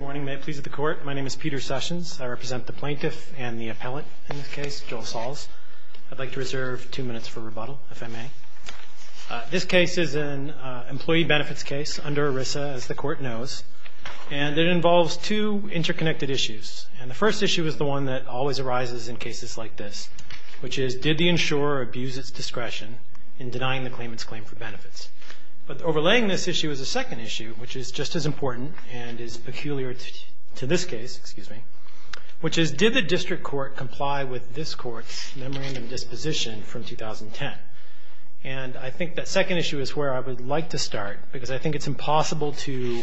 My name is Peter Sessions. I represent the plaintiff and the appellate in this case, Joel Salz. I'd like to reserve two minutes for rebuttal, if I may. This case is an employee benefits case under ERISA, as the court knows, and it involves two interconnected issues. The first issue is the one that always arises in cases like this, which is did the insurer abuse its discretion in denying the claimant's claim for benefits? But overlaying this issue is a second issue, which is just as important and is peculiar to this case, which is did the district court comply with this court's memorandum of disposition from 2010? And I think that second issue is where I would like to start, because I think it's impossible to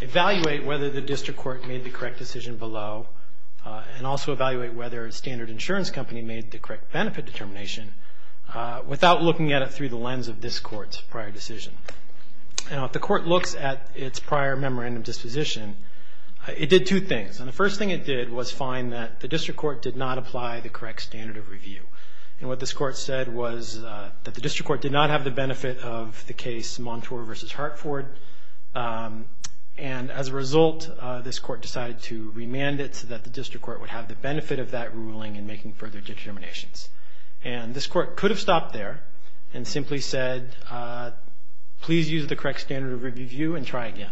evaluate whether the district court made the correct decision below and also evaluate whether Standard Insurance Company made the correct benefit determination without looking at it through the lens of this court's prior decision. Now, if the court looks at its prior memorandum of disposition, it did two things, and the first thing it did was find that the district court did not apply the correct standard of review, and what this court said was that the district court did not have the benefit of the case Montour v. Hartford, and as a result, this court decided to remand it so that the district court would have the benefit of that ruling and making further determinations. And this court could have stopped there and simply said, please use the correct standard of review and try again.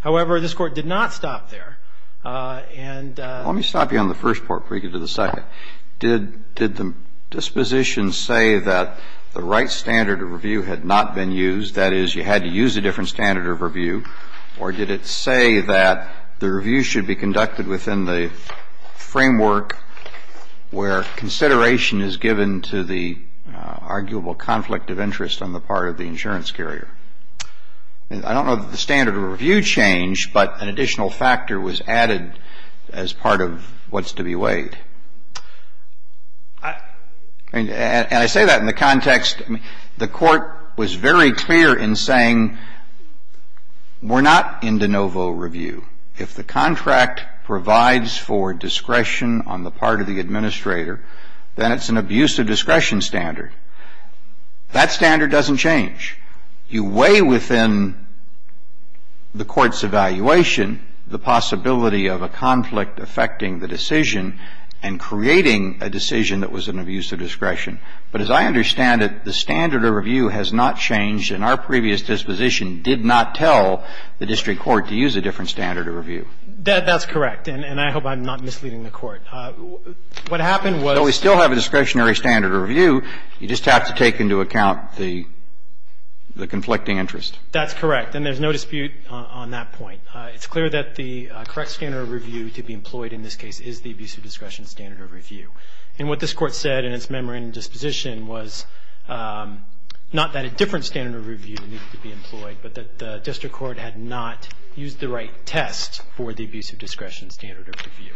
However, this court did not stop there and ---- Let me stop you on the first part before you get to the second. Did the disposition say that the right standard of review had not been used, that is, you had to use a different standard of review, or did it say that the review should be conducted within the framework where consideration is given to the arguable conflict of interest on the part of the insurance carrier? I don't know that the standard of review changed, but an additional factor was added as part of what's to be weighed. And I say that in the context, the Court was very clear in saying we're not in de novo review. If the contract provides for discretion on the part of the administrator, then it's an abuse of discretion standard. That standard doesn't change. You weigh within the Court's evaluation the possibility of a conflict affecting the decision, and creating a decision that was an abuse of discretion. But as I understand it, the standard of review has not changed, and our previous disposition did not tell the district court to use a different standard of review. That's correct. And I hope I'm not misleading the Court. What happened was ---- So we still have a discretionary standard of review. You just have to take into account the conflicting interest. That's correct. And there's no dispute on that point. It's clear that the correct standard of review to be employed in this case is the abuse of discretion standard of review. And what this Court said in its memorandum disposition was not that a different standard of review needed to be employed, but that the district court had not used the right test for the abuse of discretion standard of review.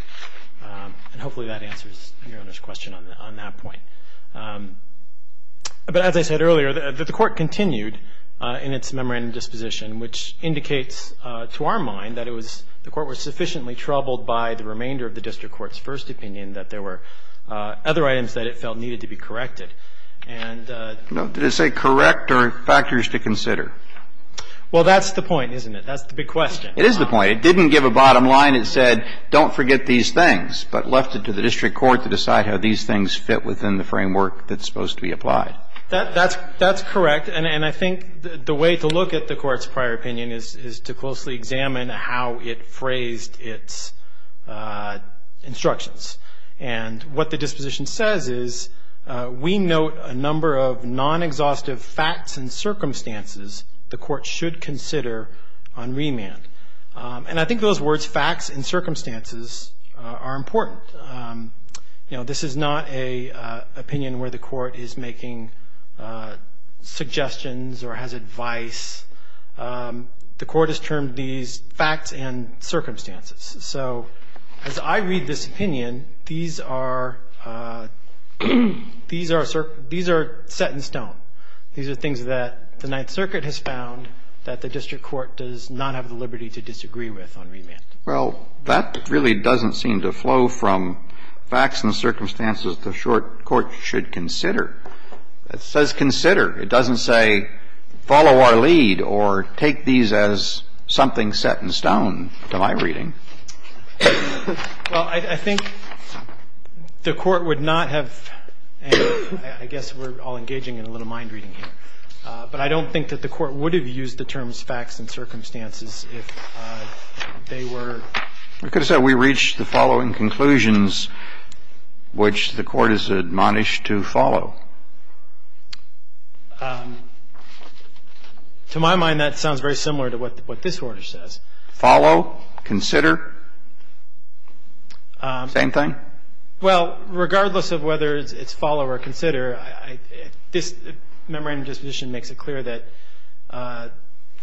And hopefully that answers Your Honor's question on that point. But as I said earlier, the Court continued in its memorandum disposition, which indicates to our mind that it was ---- the Court was sufficiently troubled by the remainder of the district court's first opinion that there were other items that it felt needed to be corrected. And ---- Did it say correct or factors to consider? Well, that's the point, isn't it? That's the big question. It is the point. It didn't give a bottom line. It said don't forget these things, but left it to the district court to decide how these things fit within the framework. That's supposed to be applied. That's correct. And I think the way to look at the Court's prior opinion is to closely examine how it phrased its instructions. And what the disposition says is we note a number of non-exhaustive facts and circumstances the Court should consider on remand. And I think those words, facts and circumstances, are important. You know, this is not an opinion where the Court is making suggestions or has advice. The Court has termed these facts and circumstances. So as I read this opinion, these are set in stone. These are things that the Ninth Circuit has found that the district court does not have the liberty to disagree with on remand. Well, that really doesn't seem to flow from facts and circumstances the short court should consider. It says consider. It doesn't say follow our lead or take these as something set in stone, to my reading. Well, I think the Court would not have and I guess we're all engaging in a little mind reading here. But I don't think that the Court would have used the terms facts and circumstances if they were. We could have said we reached the following conclusions, which the Court has admonished to follow. To my mind, that sounds very similar to what this order says. Follow? Consider? Same thing? Well, regardless of whether it's follow or consider, this memorandum of disposition makes it clear that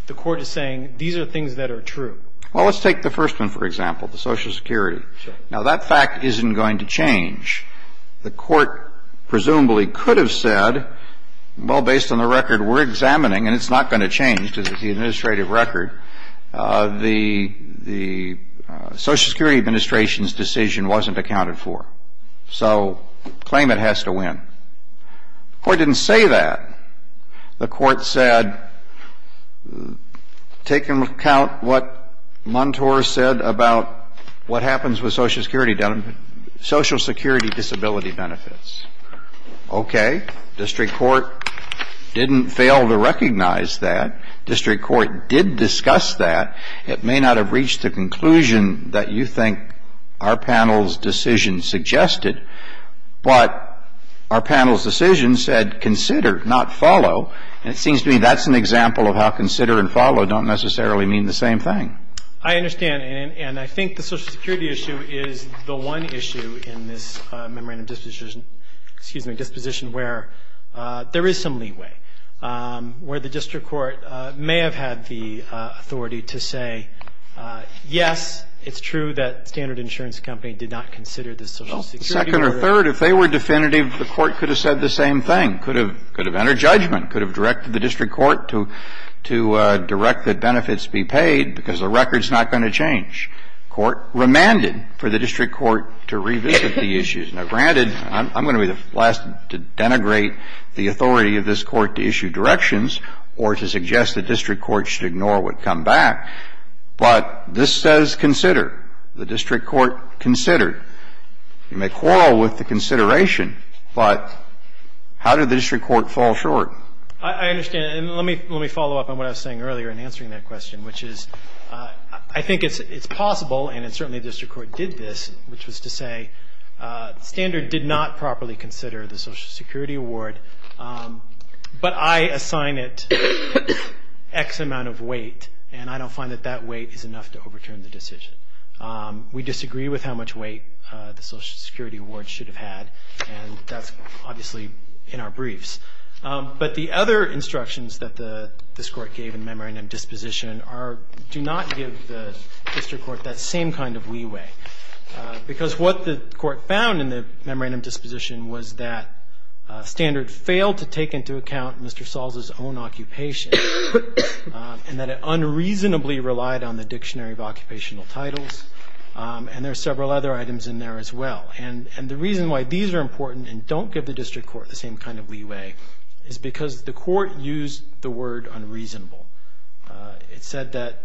the Court is saying these are things that are true. Well, let's take the first one, for example, the Social Security. Sure. Now, that fact isn't going to change. The Court presumably could have said, well, based on the record we're examining, and it's not going to change because it's the administrative record, the Social Security Administration's decision wasn't accounted for. So claimant has to win. The Court didn't say that. The Court said, take into account what Montour said about what happens with Social Security disability benefits. Okay. District Court didn't fail to recognize that. District Court did discuss that. It may not have reached the conclusion that you think our panel's decision suggested, but our panel's decision said consider, not follow. And it seems to me that's an example of how consider and follow don't necessarily mean the same thing. I understand. And I think the Social Security issue is the one issue in this memorandum of disposition where there is some leeway, where the District Court may have had the authority to say, yes, it's true that Standard Insurance Company did not consider the Social Security. Well, second or third, if they were definitive, the Court could have said the same thing, could have entered judgment, could have directed the District Court to direct that benefits be paid because the record's not going to change. The Court remanded for the District Court to revisit the issues. Now, granted, I'm going to be the last to denigrate the authority of this Court to issue directions or to suggest the District Court should ignore what come back, but this says consider. The District Court considered. You may quarrel with the consideration, but how did the District Court fall short? I understand. And let me follow up on what I was saying earlier in answering that question, which is I think it's possible, and certainly the District Court did this, which was to say Standard did not properly consider the Social Security Award, but I assign it X amount of weight, and I don't find that that weight is enough to overturn the decision. We disagree with how much weight the Social Security Award should have had, and that's obviously in our briefs. But the other instructions that this Court gave in memorandum disposition do not give the District Court that same kind of leeway, because what the Court found in the memorandum disposition was that Standard failed to take into account Mr. Salza's own occupation and that it unreasonably relied on the Dictionary of Occupational Titles, and there are several other items in there as well. And the reason why these are important and don't give the District Court the same kind of leeway is because the Court used the word unreasonable. It said that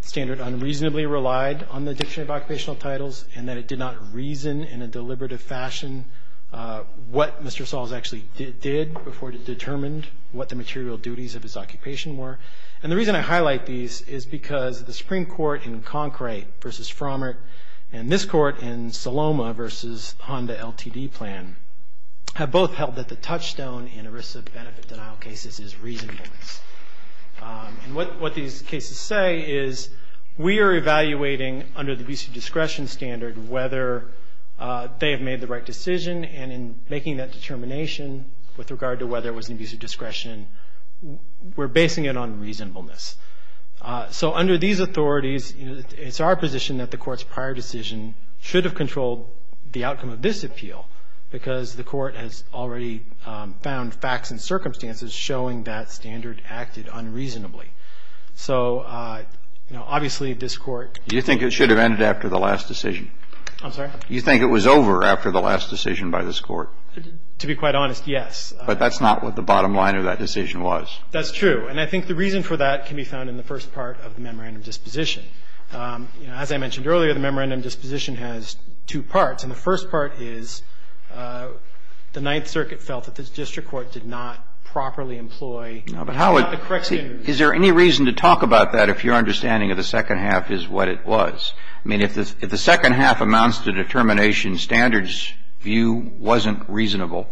Standard unreasonably relied on the Dictionary of Occupational Titles and that it did not reason in a deliberative fashion what Mr. Salza actually did before it determined what the material duties of his occupation were. And the reason I highlight these is because the Supreme Court in Concrete v. Frommert and this Court in Saloma v. Honda LTD Plan have both held that the touchstone in ERISA benefit denial cases is reasonableness. And what these cases say is we are evaluating under the abusive discretion standard whether they have made the right decision, and in making that determination with regard to whether it was an abusive discretion, we're basing it on reasonableness. So under these authorities, you know, it's our position that the Court's prior decision should have controlled the outcome of this appeal because the Court has already found facts and circumstances showing that Standard acted unreasonably. So, you know, obviously this Court ---- You think it should have ended after the last decision? I'm sorry? You think it was over after the last decision by this Court? To be quite honest, yes. But that's not what the bottom line of that decision was. That's true. And I think the reason for that can be found in the first part of the memorandum disposition. You know, as I mentioned earlier, the memorandum disposition has two parts. And the first part is the Ninth Circuit felt that the district court did not properly employ the correct standards. Is there any reason to talk about that if your understanding of the second half is what it was? I mean, if the second half amounts to determination standards view wasn't reasonable,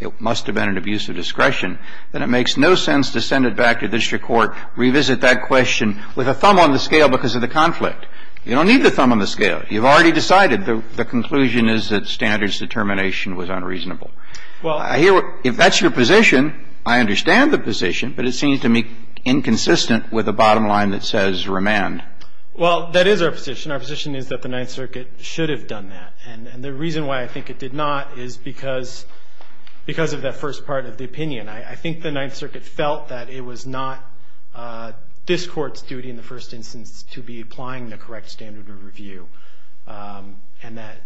it must have been an abuse of discretion, then it makes no sense to send it back to district court, revisit that question with a thumb on the scale because of the conflict. You don't need the thumb on the scale. You've already decided the conclusion is that standards determination was unreasonable. Well, I hear what ---- If that's your position, I understand the position, but it seems to me inconsistent with the bottom line that says remand. Well, that is our position. Our position is that the Ninth Circuit should have done that. And the reason why I think it did not is because of that first part of the opinion. I think the Ninth Circuit felt that it was not this Court's duty in the first instance to be applying the correct standard of review and that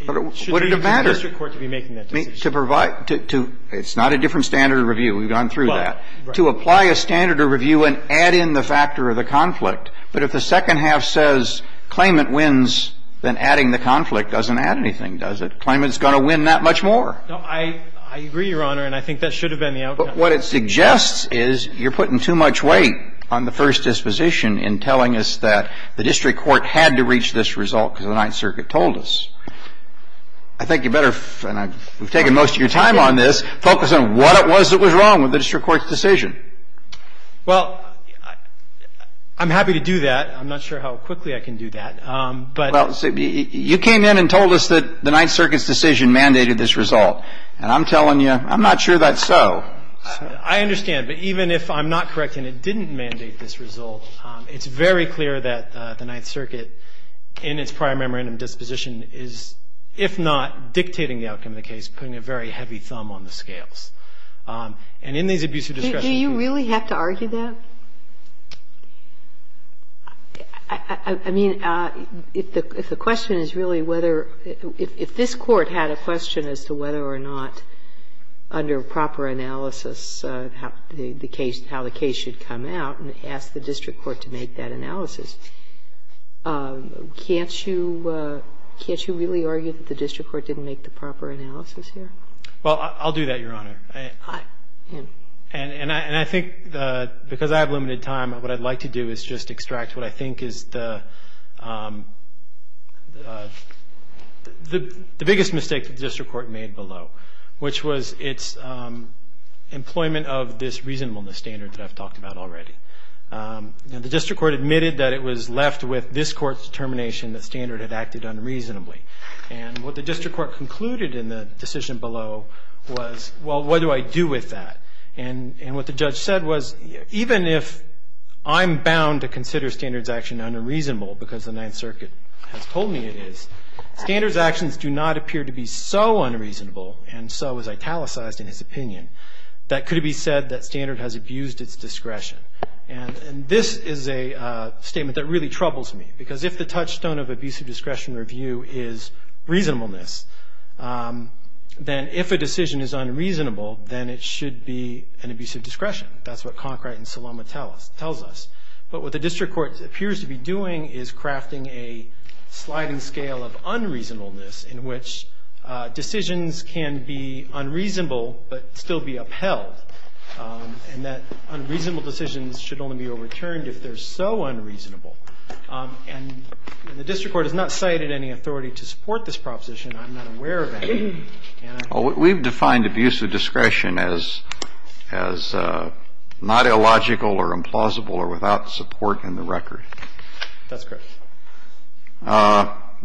it should be the district court to be making that decision. Would it have mattered to provide to ---- it's not a different standard of review. We've gone through that. Right. To apply a standard of review and add in the factor of the conflict. But if the second half says claimant wins, then adding the conflict doesn't add anything, does it? Claimant is going to win that much more. No, I agree, Your Honor, and I think that should have been the outcome. But what it suggests is you're putting too much weight on the first disposition in telling us that the district court had to reach this result because the Ninth Circuit told us. I think you better, and we've taken most of your time on this, focus on what it was that was wrong with the district court's decision. Well, I'm happy to do that. I'm not sure how quickly I can do that. But ---- Well, you came in and told us that the Ninth Circuit's decision mandated this result. And I'm telling you, I'm not sure that's so. I understand. But even if I'm not correct and it didn't mandate this result, it's very clear that the Ninth Circuit in its prior memorandum disposition is, if not dictating the outcome of the case, putting a very heavy thumb on the scales. And in these abusive discretion cases ---- Do you really have to argue that? I mean, if the question is really whether ---- if this Court had a question as to whether or not, under proper analysis, how the case should come out, and asked the district court to make that analysis, can't you really argue that the district court didn't make the proper analysis here? Well, I'll do that, Your Honor. And I think, because I have limited time, what I'd like to do is just extract what I think is the biggest mistake that the district court made below, which was its employment of this reasonableness standard that I've talked about already. The district court admitted that it was left with this Court's determination the standard had acted unreasonably. And what the district court concluded in the decision below was, well, what do I do with that? And what the judge said was, even if I'm bound to consider standard's action unreasonable, because the Ninth Circuit has told me it is, standard's actions do not appear to be so unreasonable, and so was italicized in his opinion, that could be said that standard has abused its discretion. And this is a statement that really troubles me, because if the touchstone of abusive discretion review is reasonableness, then if a decision is unreasonable, then it should be an abusive discretion. That's what Conkright and Salama tells us. But what the district court appears to be doing is crafting a sliding scale of unreasonableness in which decisions can be unreasonable but still be upheld, and that unreasonable decisions should only be overturned if they're so unreasonable. And the district court has not cited any authority to support this proposition. I'm not aware of any. And I'm not aware of any. We've defined abusive discretion as not illogical or implausible or without support in the record. That's correct.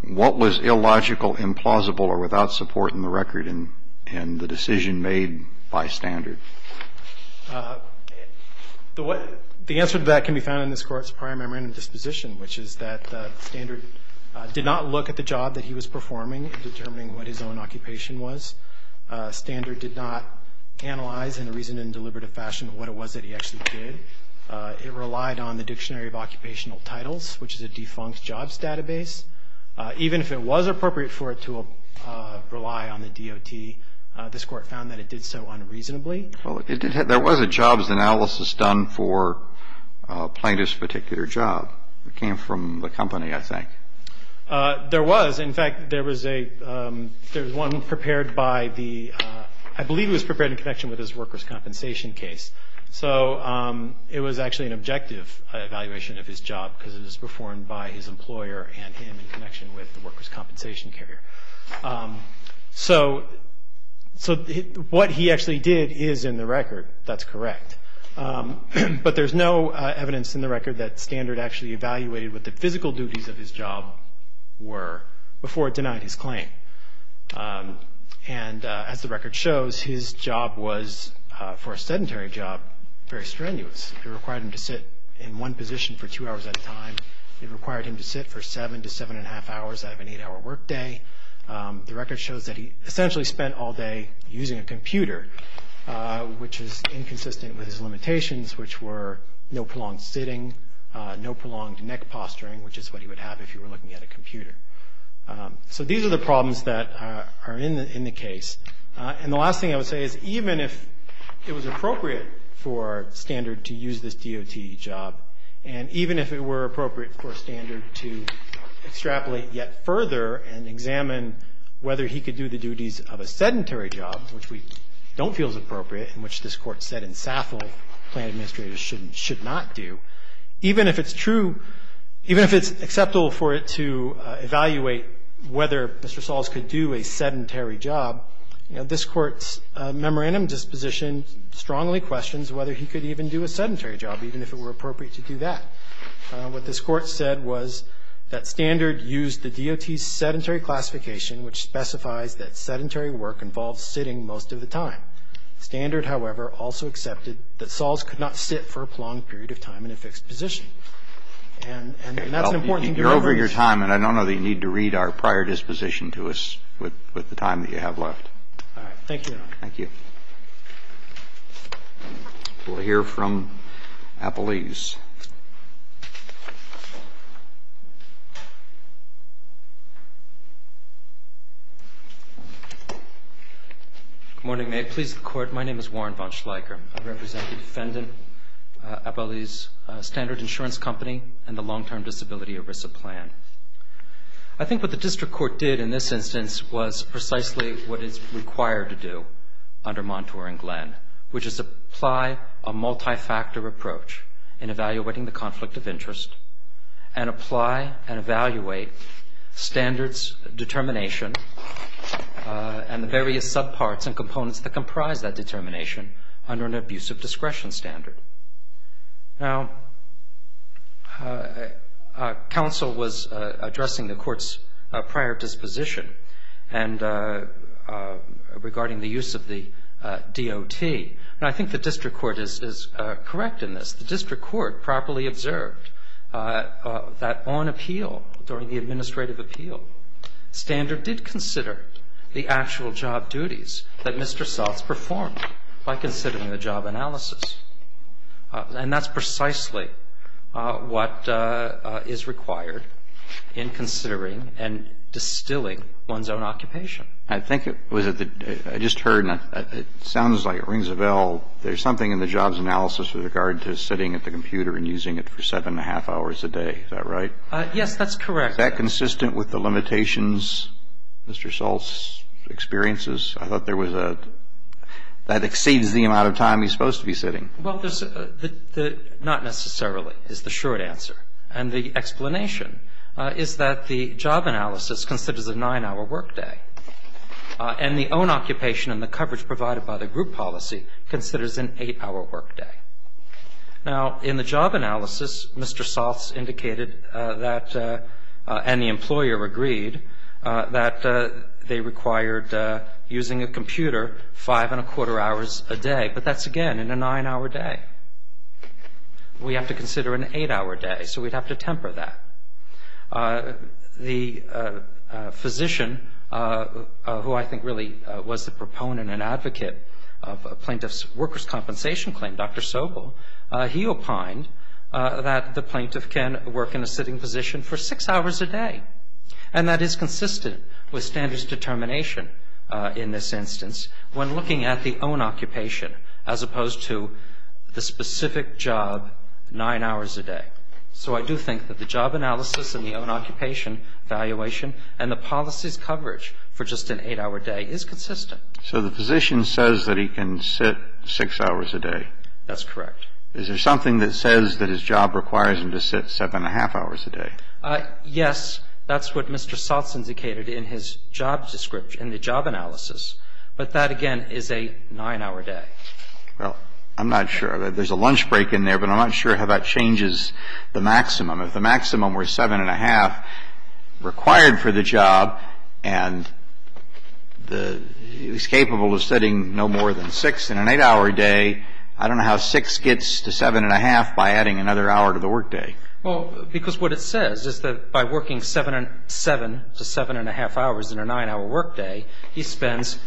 What was illogical, implausible, or without support in the record in the decision made by standard? Thank you. The answer to that can be found in this Court's prior memorandum disposition, which is that standard did not look at the job that he was performing in determining what his own occupation was. Standard did not analyze in a reasoned and deliberative fashion what it was that he actually did. It relied on the Dictionary of Occupational Titles, which is a defunct jobs database. Even if it was appropriate for it to rely on the DOT, this Court found that it did so unreasonably. Well, there was a jobs analysis done for a plaintiff's particular job. It came from the company, I think. There was. In fact, there was one prepared by the – I believe it was prepared in connection with his workers' compensation case. So it was actually an objective evaluation of his job because it was performed by his employer and him in connection with the workers' compensation carrier. So what he actually did is in the record. That's correct. But there's no evidence in the record that standard actually evaluated what the physical duties of his job were before it denied his claim. And as the record shows, his job was, for a sedentary job, very strenuous. It required him to sit in one position for two hours at a time. It required him to sit for seven to seven and a half hours out of an eight-hour workday. The record shows that he essentially spent all day using a computer, which is inconsistent with his limitations, which were no prolonged sitting, no prolonged neck posturing, which is what he would have if he were looking at a computer. So these are the problems that are in the case. And the last thing I would say is even if it was appropriate for standard to use this DOT job, and even if it were appropriate for standard to extrapolate yet further and examine whether he could do the duties of a sedentary job, which we don't feel is appropriate and which this Court said in Saffle plaintiff administrators should not do, even if it's true, even if it's acceptable for it to evaluate whether Mr. Sahls could do a sedentary job, this Court's memorandum disposition strongly questions whether he could even do a sedentary job, even if it were appropriate to do that. What this Court said was that standard used the DOT's sedentary classification, which specifies that sedentary work involves sitting most of the time. Standard, however, also accepted that Sahls could not sit for a prolonged period of time in a fixed position. And that's an important thing to remember. You're over your time, and I don't know that you need to read our prior disposition to us with the time that you have left. All right. Thank you, Your Honor. Thank you. We'll hear from Appelese. Good morning. May it please the Court. My name is Warren Von Schleicher. I represent the defendant, Appelese Standard Insurance Company, and the Long-Term Disability ERISA Plan. I think what the district court did in this instance was precisely what it's under Montour and Glenn, which is to apply a multifactor approach in evaluating the conflict of interest and apply and evaluate standards determination and the various subparts and components that comprise that determination under an abuse of discretion standard. Now, counsel was addressing the court's prior disposition, and regarding the use of the DOT. And I think the district court is correct in this. The district court properly observed that on appeal, during the administrative appeal, Standard did consider the actual job duties that Mr. Soth's performed by considering the job analysis. And that's precisely what is required in considering and distilling one's own occupation. I think it was at the, I just heard, and it sounds like it rings a bell, there's something in the job's analysis with regard to sitting at the computer and using it for seven and a half hours a day. Is that right? Yes, that's correct. Is that consistent with the limitations Mr. Soth's experiences? I thought there was a, that exceeds the amount of time he's supposed to be sitting. Well, not necessarily, is the short answer. And the explanation is that the job analysis considers a nine-hour work day. And the own occupation and the coverage provided by the group policy considers an eight-hour work day. Now, in the job analysis, Mr. Soth's indicated that, and the employer agreed, that they required using a computer five and a quarter hours a day. But that's, again, in a nine-hour day. We have to consider an eight-hour day, so we'd have to temper that. The physician, who I think really was the proponent and advocate of a plaintiff's workers' compensation claim, Dr. Sobel, he opined that the plaintiff can work in a sitting position for six hours a day. And that is consistent with standards determination in this instance when looking at the own occupation as opposed to the specific job nine hours a day. So I do think that the job analysis and the own occupation evaluation and the policy's coverage for just an eight-hour day is consistent. So the physician says that he can sit six hours a day? That's correct. Is there something that says that his job requires him to sit seven and a half hours a day? Yes. That's what Mr. Soth's indicated in his job description, in the job analysis. But that, again, is a nine-hour day. Well, I'm not sure. There's a lunch break in there, but I'm not sure how that changes the maximum. If the maximum were seven and a half required for the job, and he was capable of sitting no more than six in an eight-hour day, I don't know how six gets to seven and a half by adding another hour to the workday. Well, because what it says is that by working seven to seven and a half hours in a nine-hour workday, he spends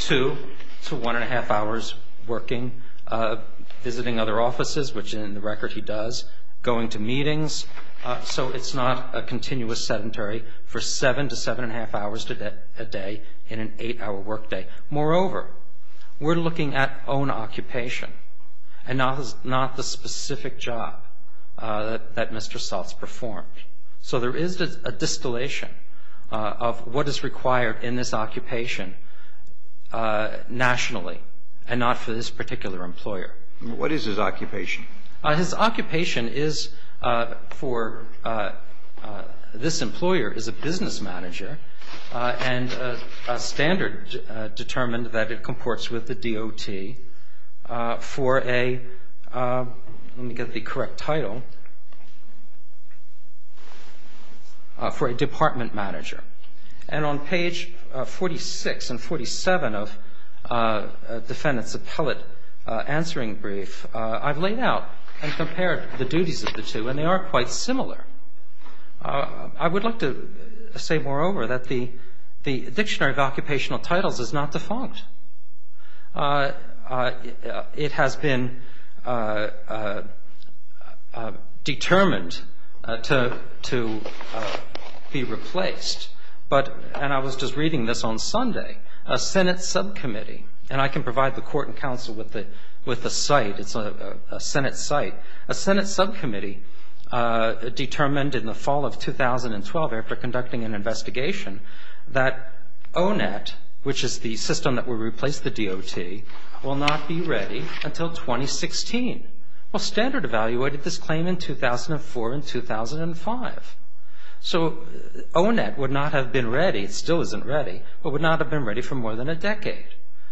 two to one and a half hours working, visiting other offices, which in the record he does, going to meetings. So it's not a continuous sedentary for seven to seven and a half hours a day in an eight-hour workday. Moreover, we're looking at own occupation and not the specific job that Mr. Soth's performed. So there is a distillation of what is required in this occupation nationally and not for this particular employer. What is his occupation? His occupation is for this employer is a business manager and a standard determined that it comports with the DOT for a, let me get the correct title, for a department manager. And on page 46 and 47 of defendant's appellate answering brief, I've laid out and compared the duties of the two, and they are quite similar. I would like to say, moreover, that the Dictionary of Occupational Titles is not defunct. It has been determined to be replaced. And I was just reading this on Sunday. A Senate subcommittee, and I can provide the court and counsel with the site. It's a Senate site. A Senate subcommittee determined in the fall of 2012 after conducting an investigation to replace the DOT will not be ready until 2016. Well, Standard evaluated this claim in 2004 and 2005. So O-Net would not have been ready, it still isn't ready, but would not have been ready for more than a decade.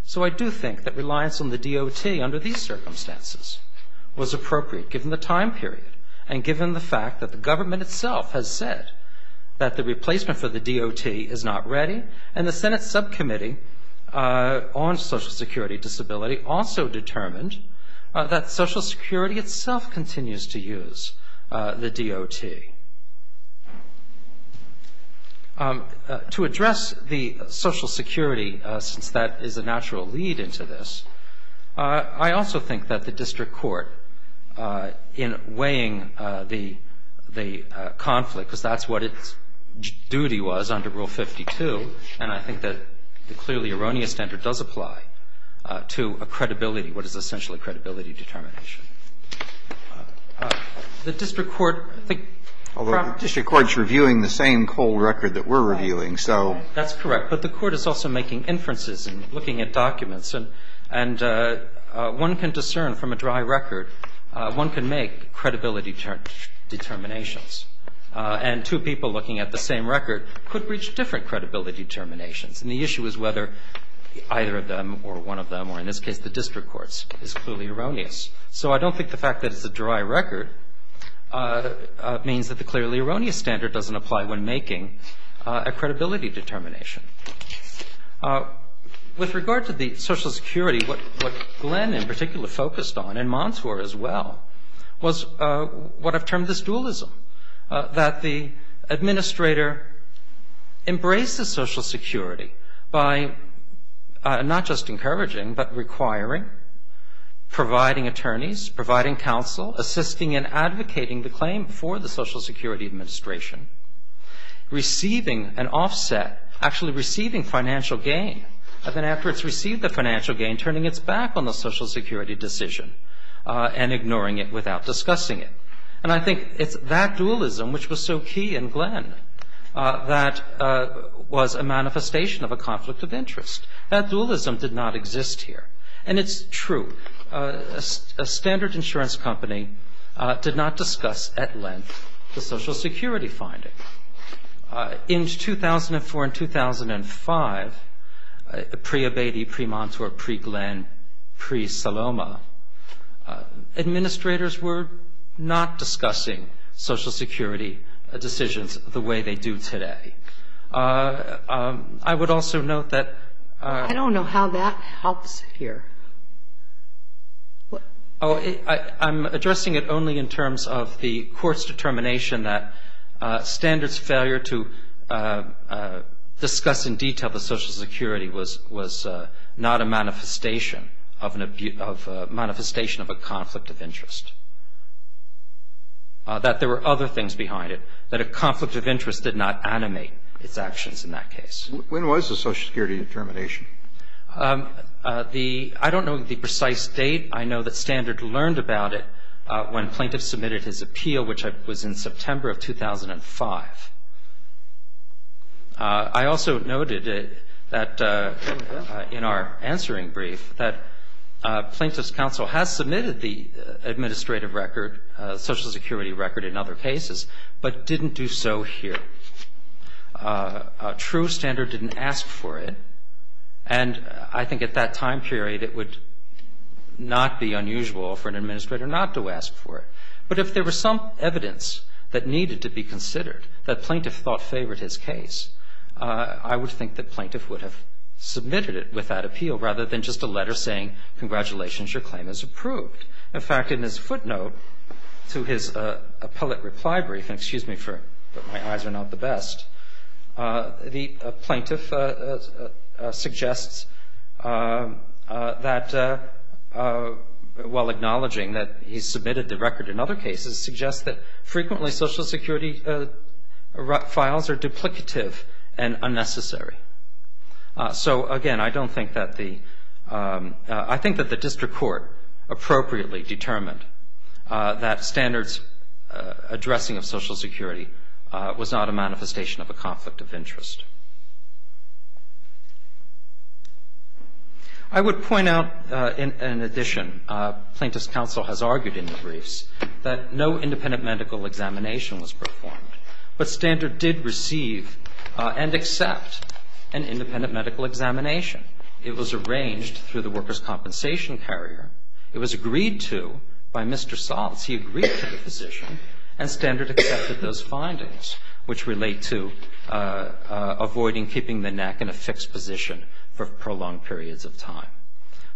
So I do think that reliance on the DOT under these circumstances was appropriate given the time period and given the fact that the government itself has said that the replacement for the DOT is not ready. And the Senate subcommittee on social security disability also determined that social security itself continues to use the DOT. To address the social security, since that is a natural lead into this, I also think that the district court in weighing the conflict, because that's what its duty was under Rule 52, and I think that the clearly erroneous standard does apply, to a credibility, what is essentially a credibility determination. The district court, I think. Although the district court is reviewing the same cold record that we're reviewing, so. That's correct. But the court is also making inferences and looking at documents. And one can discern from a dry record, one can make credibility determinations. And two people looking at the same record could reach different credibility determinations. And the issue is whether either of them, or one of them, or in this case the district courts, is clearly erroneous. So I don't think the fact that it's a dry record means that the clearly erroneous standard doesn't apply when making a credibility determination. With regard to the social security, what Glenn in particular focused on, and Montour as well, was what I've termed this dualism. That the administrator embraces social security by not just encouraging, but requiring, providing attorneys, providing counsel, assisting in advocating the receiving financial gain. And then after it's received the financial gain, turning its back on the social security decision and ignoring it without discussing it. And I think it's that dualism which was so key in Glenn that was a manifestation of a conflict of interest. That dualism did not exist here. And it's true. A standard insurance company did not discuss at length the social security finding. In 2004 and 2005, pre-Abedi, pre-Montour, pre-Glenn, pre-Saloma, administrators were not discussing social security decisions the way they do today. I would also note that. I don't know how that helps here. Oh, I'm addressing it only in terms of the court's determination that standards failure to discuss in detail the social security was not a manifestation of a conflict of interest. That there were other things behind it. That a conflict of interest did not animate its actions in that case. When was the social security determination? I don't know the precise date. I know that Standard learned about it when plaintiffs submitted his appeal, which was in September of 2005. I also noted that in our answering brief that Plaintiff's Counsel has submitted the administrative record, social security record in other cases, but didn't do so here. A true standard didn't ask for it. And I think at that time period it would not be unusual for an administrator not to ask for it. But if there were some evidence that needed to be considered, that Plaintiff thought favored his case, I would think that Plaintiff would have submitted it without appeal rather than just a letter saying congratulations, your claim is approved. In fact, in his footnote to his appellate reply brief, and excuse me, but my eyes are not the best, the plaintiff suggests that, while acknowledging that he's submitted the record in other cases, suggests that frequently social security files are duplicative and unnecessary. So again, I don't think that the, I think that the district court appropriately determined that standards addressing of social security was not a manifestation of a conflict of interest. I would point out, in addition, Plaintiff's Counsel has argued in the briefs that no independent medical examination was performed. But standard did receive and accept an independent medical examination. It was arranged through the workers' compensation carrier. It was agreed to by Mr. Saltz. He agreed to the position, and standard accepted those findings, which relate to avoiding keeping the neck in a fixed position for prolonged periods of time.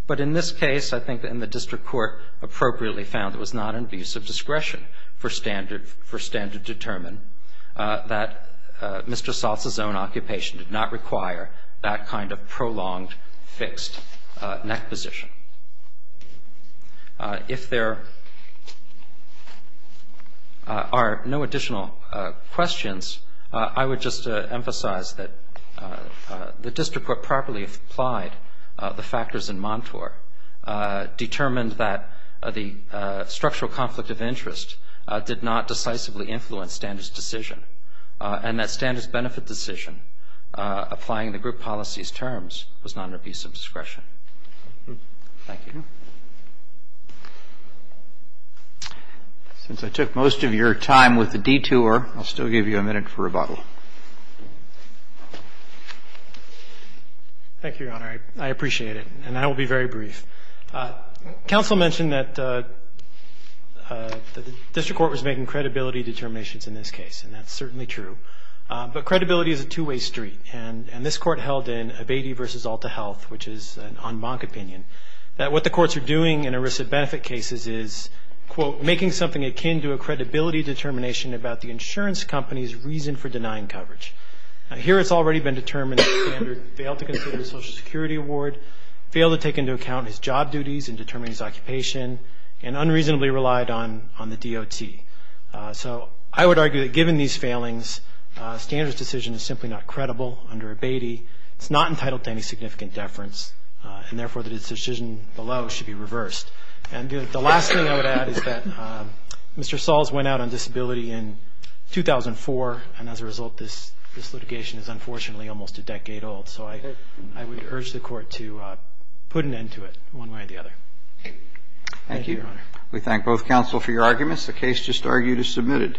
But in this case, I think the district court appropriately found it was not an abuse of discretion for standard to determine that Mr. Saltz's own occupation did not require that kind of prolonged, fixed neck position. If there are no additional questions, I would just emphasize that the district court properly applied the factors in Montour, determined that the structural conflict of interest did not decisively influence standard's decision, and that standard's decision applying the group policy's terms was not an abuse of discretion. Thank you. Since I took most of your time with the detour, I'll still give you a minute for rebuttal. Thank you, Your Honor. I appreciate it, and I will be very brief. Counsel mentioned that the district court was making credibility determinations in this case, and that's certainly true. But credibility is a two-way street, and this court held in Abatey v. Alta Health, which is an en banc opinion, that what the courts are doing in arrested benefit cases is, quote, making something akin to a credibility determination about the insurance company's reason for denying coverage. Now, here it's already been determined that standard failed to consider the Social Security Award, failed to take into account his job duties and determine his occupation, and unreasonably relied on the DOT. So I would argue that given these failings, standard's decision is simply not credible under Abatey. It's not entitled to any significant deference, and therefore that its decision below should be reversed. And the last thing I would add is that Mr. Sahls went out on disability in 2004, and as a result this litigation is unfortunately almost a decade old. So I would urge the court to put an end to it one way or the other. Thank you, Your Honor. Thank you. Thank you, both counsel, for your arguments. The case just argued is submitted.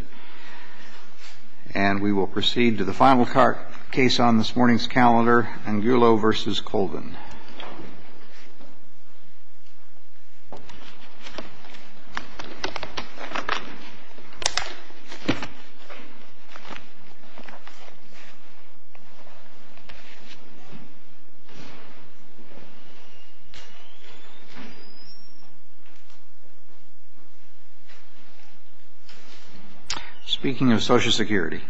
And we will proceed to the final case on this morning's calendar, Angulo v. Colvin. Speaking of Social Security...